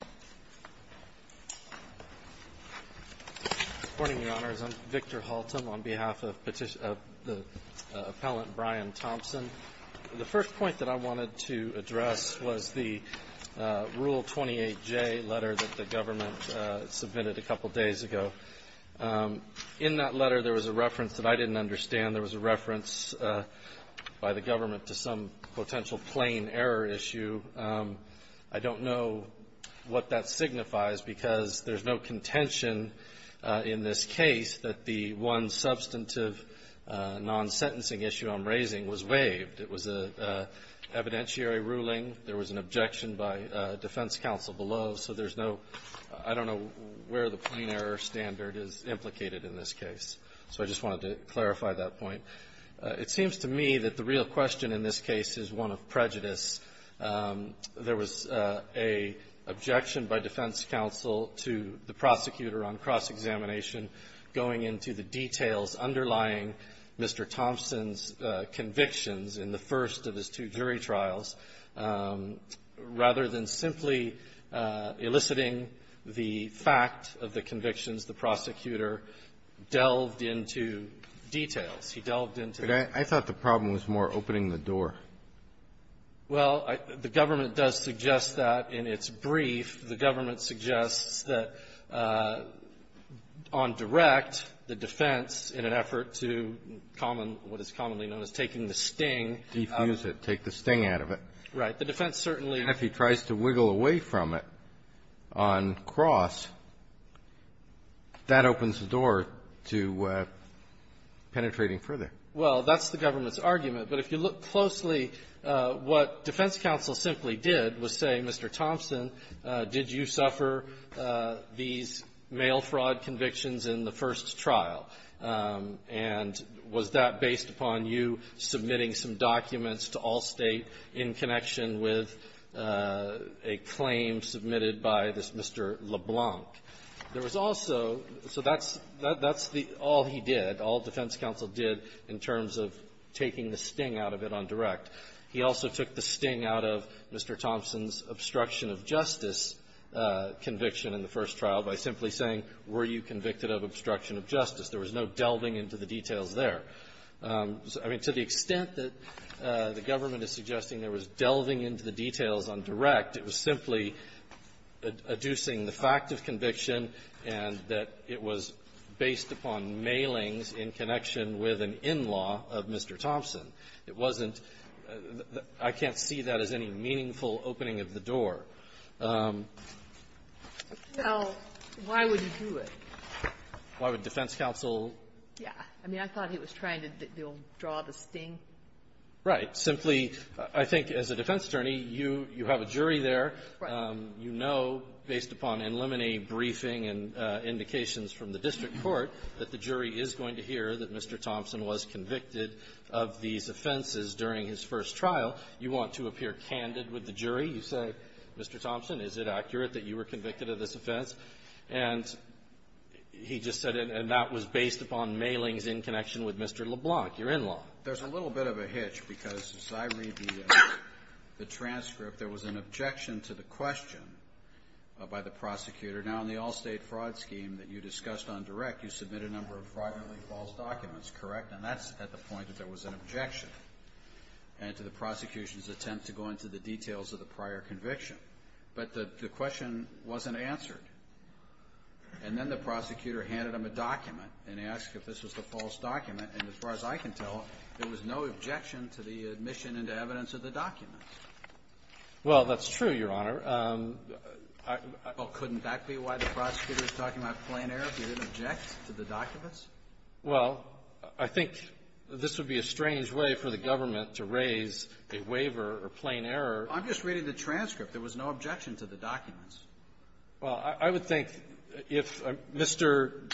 Good morning, Your Honors. I'm Victor Haltom on behalf of the appellant Brian Thompson. The first point that I wanted to address was the Rule 28J letter that the government submitted a couple days ago. In that letter, there was a reference that I didn't understand. There was a reference by the government to some potential plain error issue. I don't know what that signifies because there's no contention in this case that the one substantive non-sentencing issue I'm raising was waived. It was an evidentiary ruling. There was an objection by defense counsel below, so there's no – I don't know where the plain error standard is implicated in this case. So I just wanted to clarify that point. It seems to me that the real question in this case is one of prejudice. There was an objection by defense counsel to the prosecutor on cross-examination going into the details underlying Mr. Thompson's convictions in the first of his two jury I thought the problem was more opening the door. Well, the government does suggest that in its brief. The government suggests that on direct, the defense, in an effort to common – what is commonly known as taking the sting. Defuse it. Take the sting out of it. The defense certainly – And if he tries to wiggle away from it on cross, that opens the door to penetrating further. Well, that's the government's argument. But if you look closely, what defense counsel simply did was say, Mr. Thompson, did you suffer these mail fraud convictions in the first trial? And was that based upon you submitting some documents to Allstate in connection with a claim submitted by this Mr. LeBlanc? There was also – so that's the – all he did, all defense counsel did in terms of taking the sting out of it on direct. He also took the sting out of Mr. Thompson's obstruction of justice conviction in the first trial by simply saying, were you convicted of obstruction of justice? There was no delving into the details there. I mean, to the extent that the government is suggesting there was delving into the details on direct, it was simply adducing the fact of conviction and that it was based upon mailings in connection with an in-law of Mr. Thompson. It wasn't – I can't see that as any meaningful opening of the door. Sotomayor, I mean, I thought he was trying to draw the sting. Right. Simply, I think as a defense attorney, you have a jury there. Right. You know, based upon in limine briefing and indications from the district court, that the jury is going to hear that Mr. Thompson was convicted of these offenses You want to appear candid with the jury. You say, Mr. Thompson, is it accurate that you were convicted of this offense? And he just said, and that was based upon mailings in connection with Mr. LeBlanc, your in-law. There's a little bit of a hitch, because as I read the transcript, there was an objection to the question by the prosecutor. Now, in the all-State Fraud Scheme that you discussed on direct, you submitted a number of fraudulently false documents, correct? And that's at the point that there was an objection, and to the prosecution's attempt to go into the details of the prior conviction. But the question wasn't answered. And then the prosecutor handed him a document and asked if this was the false document. And as far as I can tell, there was no objection to the admission into evidence of the document. Well, that's true, Your Honor. Well, couldn't that be why the prosecutor is talking about plain error? He didn't object to the documents? Well, I think this would be a strange way for the government to raise a waiver or plain error. I'm just reading the transcript. There was no objection to the documents. Well, I would think if Mr.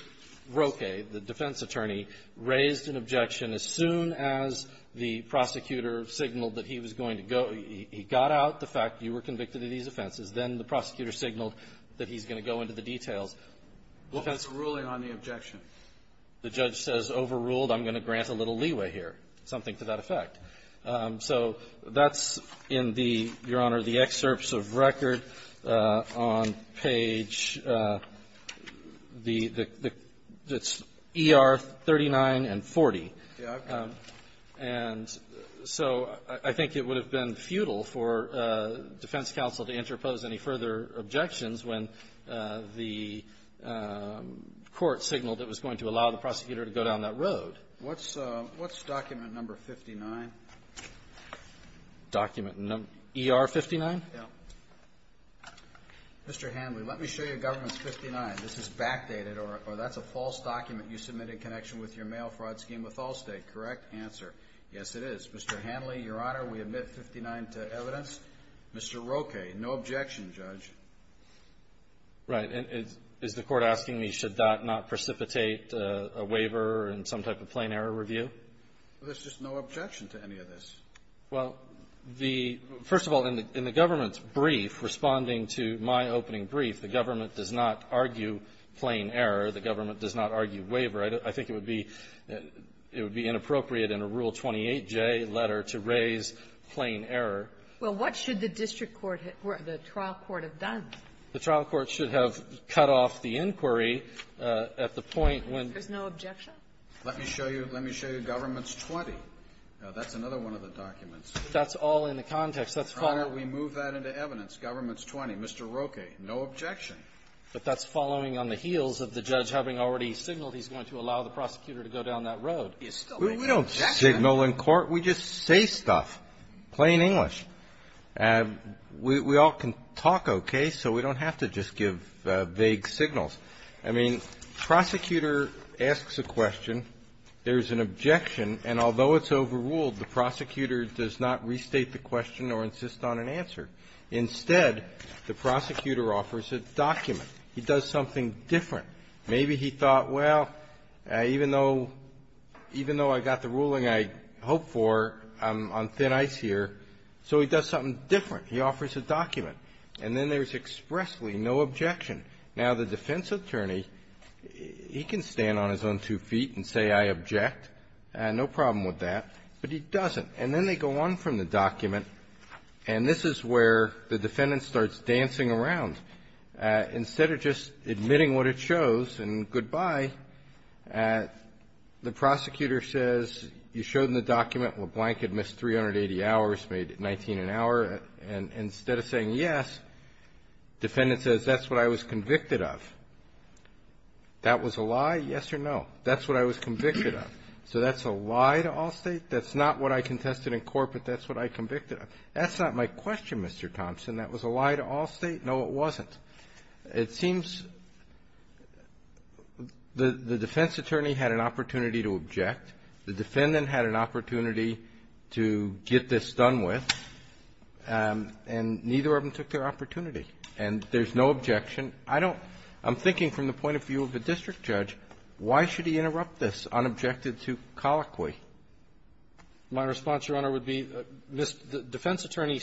Roque, the defense attorney, raised an objection as soon as the prosecutor signaled that he was going to go, he got out the fact you were convicted of these offenses, then the prosecutor signaled that he's going to go into the details. What was the ruling on the objection? The judge says overruled. I'm going to grant a little leeway here, something to that effect. So that's in the, Your Honor, the excerpts of record on page the ER39 and 40. Yeah. And so I think it would have been futile for defense counsel to interpose any further objections when the court signaled it was going to allow the prosecutor to go down that road. What's document number 59? Document number ER59? Yeah. Mr. Hanley, let me show you government's 59. This is backdated, or that's a false document you submitted in connection with your mail fraud scheme with Allstate, correct? Answer, yes, it is. Mr. Hanley, Your Honor, we admit 59 to evidence. Mr. Roque, no objection, Judge. Right. Is the Court asking me should that not precipitate a waiver and some type of plain error review? There's just no objection to any of this. Well, the — first of all, in the government's brief, responding to my opening brief, the government does not argue plain error. The government does not argue waiver. I think it would be inappropriate in a Rule 28J letter to raise plain error. Well, what should the district court or the trial court have done? The trial court should have cut off the inquiry at the point when — There's no objection? Let me show you — let me show you government's 20. Now, that's another one of the documents. That's all in the context. Let's follow — Your Honor, we move that into evidence. Government's 20. Mr. Roque, no objection. But that's following on the heels of the judge having already signaled he's going to allow the prosecutor to go down that road. You're still making objections. We just say stuff, plain English. We all can talk okay, so we don't have to just give vague signals. I mean, prosecutor asks a question. There's an objection. And although it's overruled, the prosecutor does not restate the question or insist on an answer. Instead, the prosecutor offers a document. He does something different. Maybe he thought, well, even though — even though I got the ruling I hoped for, I'm on thin ice here, so he does something different. He offers a document. And then there's expressly no objection. Now, the defense attorney, he can stand on his own two feet and say, I object. No problem with that. But he doesn't. And then they go on from the document. And this is where the defendant starts dancing around. Instead of just admitting what it shows and goodbye, the prosecutor says, you showed in the document LeBlanc had missed 380 hours, made 19 an hour. And instead of saying yes, defendant says, that's what I was convicted of. That was a lie, yes or no? That's what I was convicted of. So that's a lie to Allstate? That's not what I contested in court, but that's what I convicted of? That's not my question, Mr. Thompson. That was a lie to Allstate? No, it wasn't. It seems the defense attorney had an opportunity to object. The defendant had an opportunity to get this done with. And neither of them took their opportunity. And there's no objection. I don't – I'm thinking from the point of view of a district judge, why should he interrupt this unobjected to colloquy? My response, Your Honor, would be defense attorney,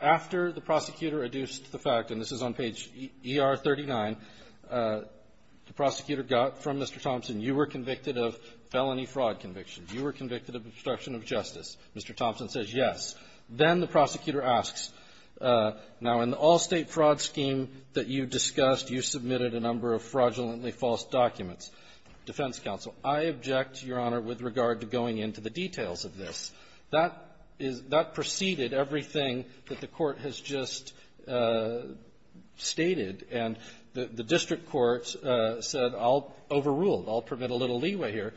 after the prosecutor adduced the fact, and this is on page ER39, the prosecutor got from Mr. Thompson, you were convicted of felony fraud convictions. You were convicted of obstruction of justice. Mr. Thompson says yes. Then the prosecutor asks, now in the Allstate fraud scheme that you discussed, you submitted a number of fraudulently false documents. Defense counsel, I object, Your Honor, with regard to going into the details of this. That is – that preceded everything that the Court has just stated. And the district court said, I'll overrule it. I'll permit a little leeway here.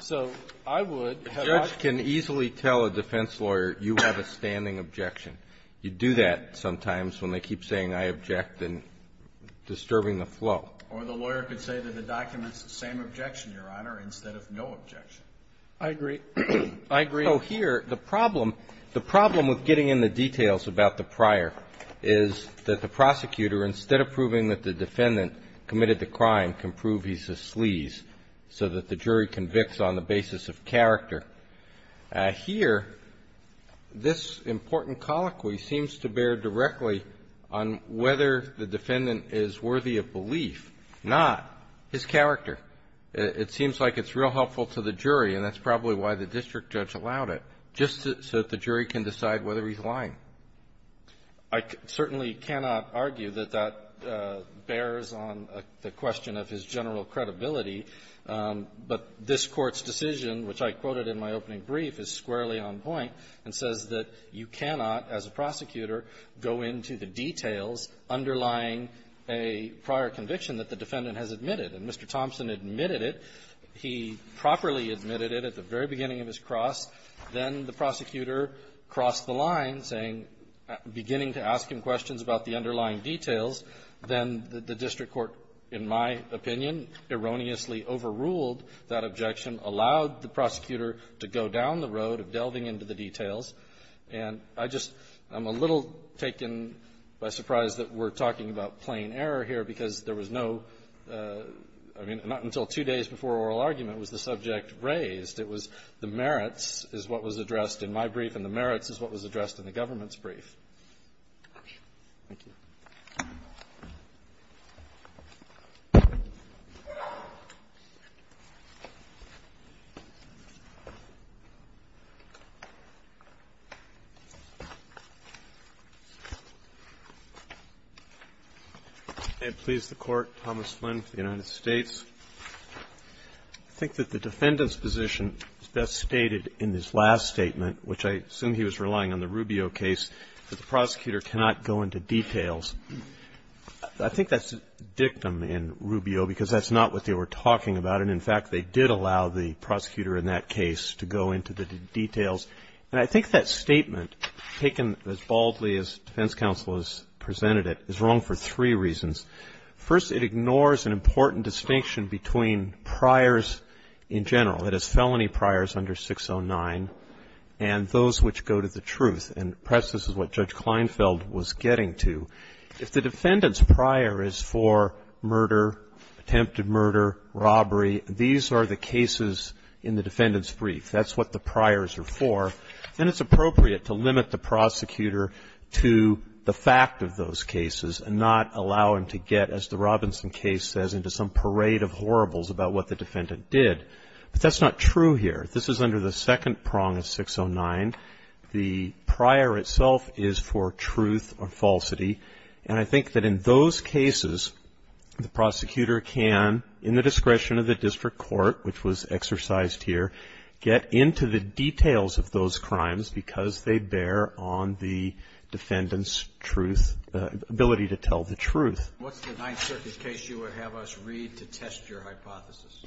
So I would have – A judge can easily tell a defense lawyer, you have a standing objection. You do that sometimes when they keep saying, I object, and disturbing the flow. Or the lawyer could say that the document's the same objection, Your Honor, instead of no objection. I agree. I agree. So here, the problem – the problem with getting in the details about the prior is that the prosecutor, instead of proving that the defendant committed the crime, can prove he's a sleaze so that the jury convicts on the basis of character. is worthy of belief, not his character. It seems like it's real helpful to the jury, and that's probably why the district judge allowed it, just so that the jury can decide whether he's lying. I certainly cannot argue that that bears on the question of his general credibility. But this Court's decision, which I quoted in my opening brief, is squarely on point and says that you cannot, as a prosecutor, go into the details underlying a prior conviction that the defendant has admitted. And Mr. Thompson admitted it. He properly admitted it at the very beginning of his cross. Then the prosecutor crossed the line, saying – beginning to ask him questions about the underlying details. Then the district court, in my opinion, erroneously overruled that objection, allowed the prosecutor to go down the road of delving into the details. And I just – I'm a little taken by surprise that we're talking about plain error here, because there was no – I mean, not until two days before oral argument was the subject raised. It was the merits is what was addressed in my brief, and the merits is what was addressed in the government's brief. Roberts. Thank you. I please the Court. Thomas Flynn for the United States. I think that the defendant's position is best stated in his last statement, which I assume he was relying on the Rubio case, that the prosecutor cannot go into details. I think that's a dictum in Rubio, because that's not what they were talking about. And, in fact, they did allow the prosecutor in that case to go into the details. And I think that statement, taken as boldly as defense counsel has presented it, is wrong for three reasons. First, it ignores an important distinction between priors in general, that is, those which go to the truth. And perhaps this is what Judge Kleinfeld was getting to. If the defendant's prior is for murder, attempted murder, robbery, these are the cases in the defendant's brief. That's what the priors are for. And it's appropriate to limit the prosecutor to the fact of those cases and not allow him to get, as the Robinson case says, into some parade of horribles about what the defendant did. But that's not true here. This is under the second prong of 609. The prior itself is for truth or falsity. And I think that in those cases, the prosecutor can, in the discretion of the district court, which was exercised here, get into the details of those crimes because they bear on the defendant's truth, ability to tell the truth. What's the Ninth Circuit case you would have us read to test your hypothesis?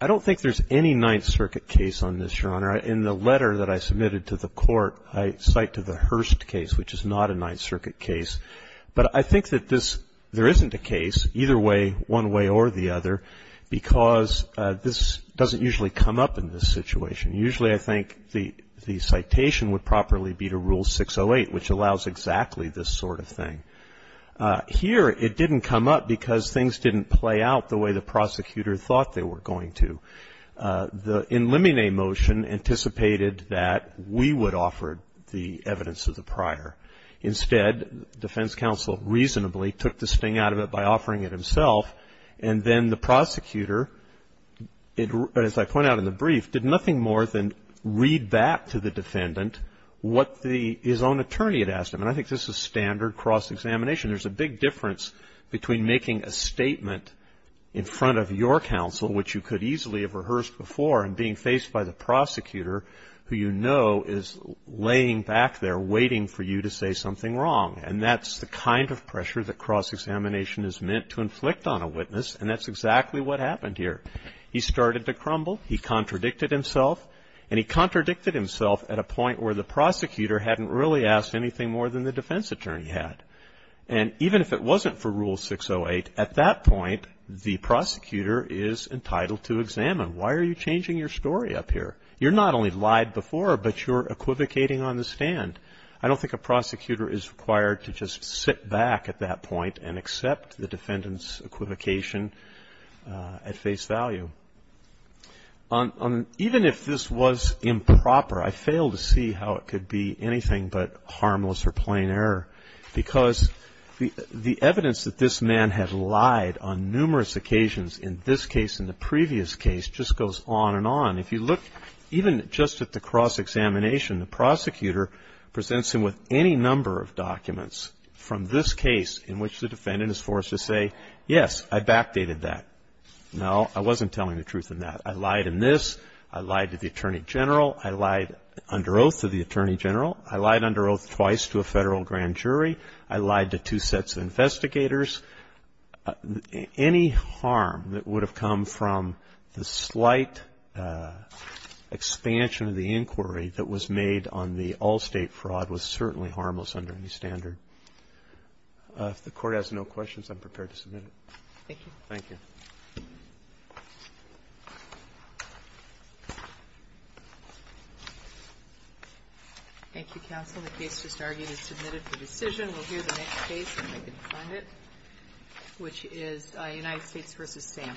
I don't think there's any Ninth Circuit case on this, Your Honor. In the letter that I submitted to the court, I cite to the Hurst case, which is not a Ninth Circuit case. But I think that this, there isn't a case, either way, one way or the other, because this doesn't usually come up in this situation. Usually, I think the citation would properly be to Rule 608, which allows exactly this sort of thing. Here, it didn't come up because things didn't play out the way the prosecutor thought they were going to. The in limine motion anticipated that we would offer the evidence of the prior. Instead, defense counsel reasonably took the sting out of it by offering it himself, and then the prosecutor, as I point out in the brief, did nothing more than read back to the defendant what his own attorney had asked him. And I think this is standard cross-examination. There's a big difference between making a statement in front of your counsel, which you could easily have rehearsed before, and being faced by the prosecutor, who you know is laying back there waiting for you to say something wrong. And that's the kind of pressure that cross-examination is meant to inflict on a witness, and that's exactly what happened here. He started to crumble. He contradicted himself, and he contradicted himself at a point where the prosecutor hadn't really asked anything more than the defense attorney had. And even if it wasn't for Rule 608, at that point, the prosecutor is entitled to examine. Why are you changing your story up here? You're not only lied before, but you're equivocating on the stand. I don't think a prosecutor is required to just sit back at that point and accept the defendant's equivocation at face value. Even if this was improper, I failed to see how it could be anything but harmless or plain error because the evidence that this man had lied on numerous occasions, in this case and the previous case, just goes on and on. If you look even just at the cross-examination, the prosecutor presents him with any number of documents from this case in which the defendant is forced to say, yes, I backdated that. No, I wasn't telling the truth in that. I lied in this. I lied to the attorney general. I lied under oath to the attorney general. I lied under oath twice to a Federal grand jury. I lied to two sets of investigators. Any harm that would have come from the slight expansion of the inquiry that was made on the all-State fraud was certainly harmless under any standard. If the Court has no questions, I'm prepared to submit it. Thank you. Thank you. Thank you, Counsel. The case just argued is submitted for decision. We'll hear the next case when we can find it, which is United States v. Sam.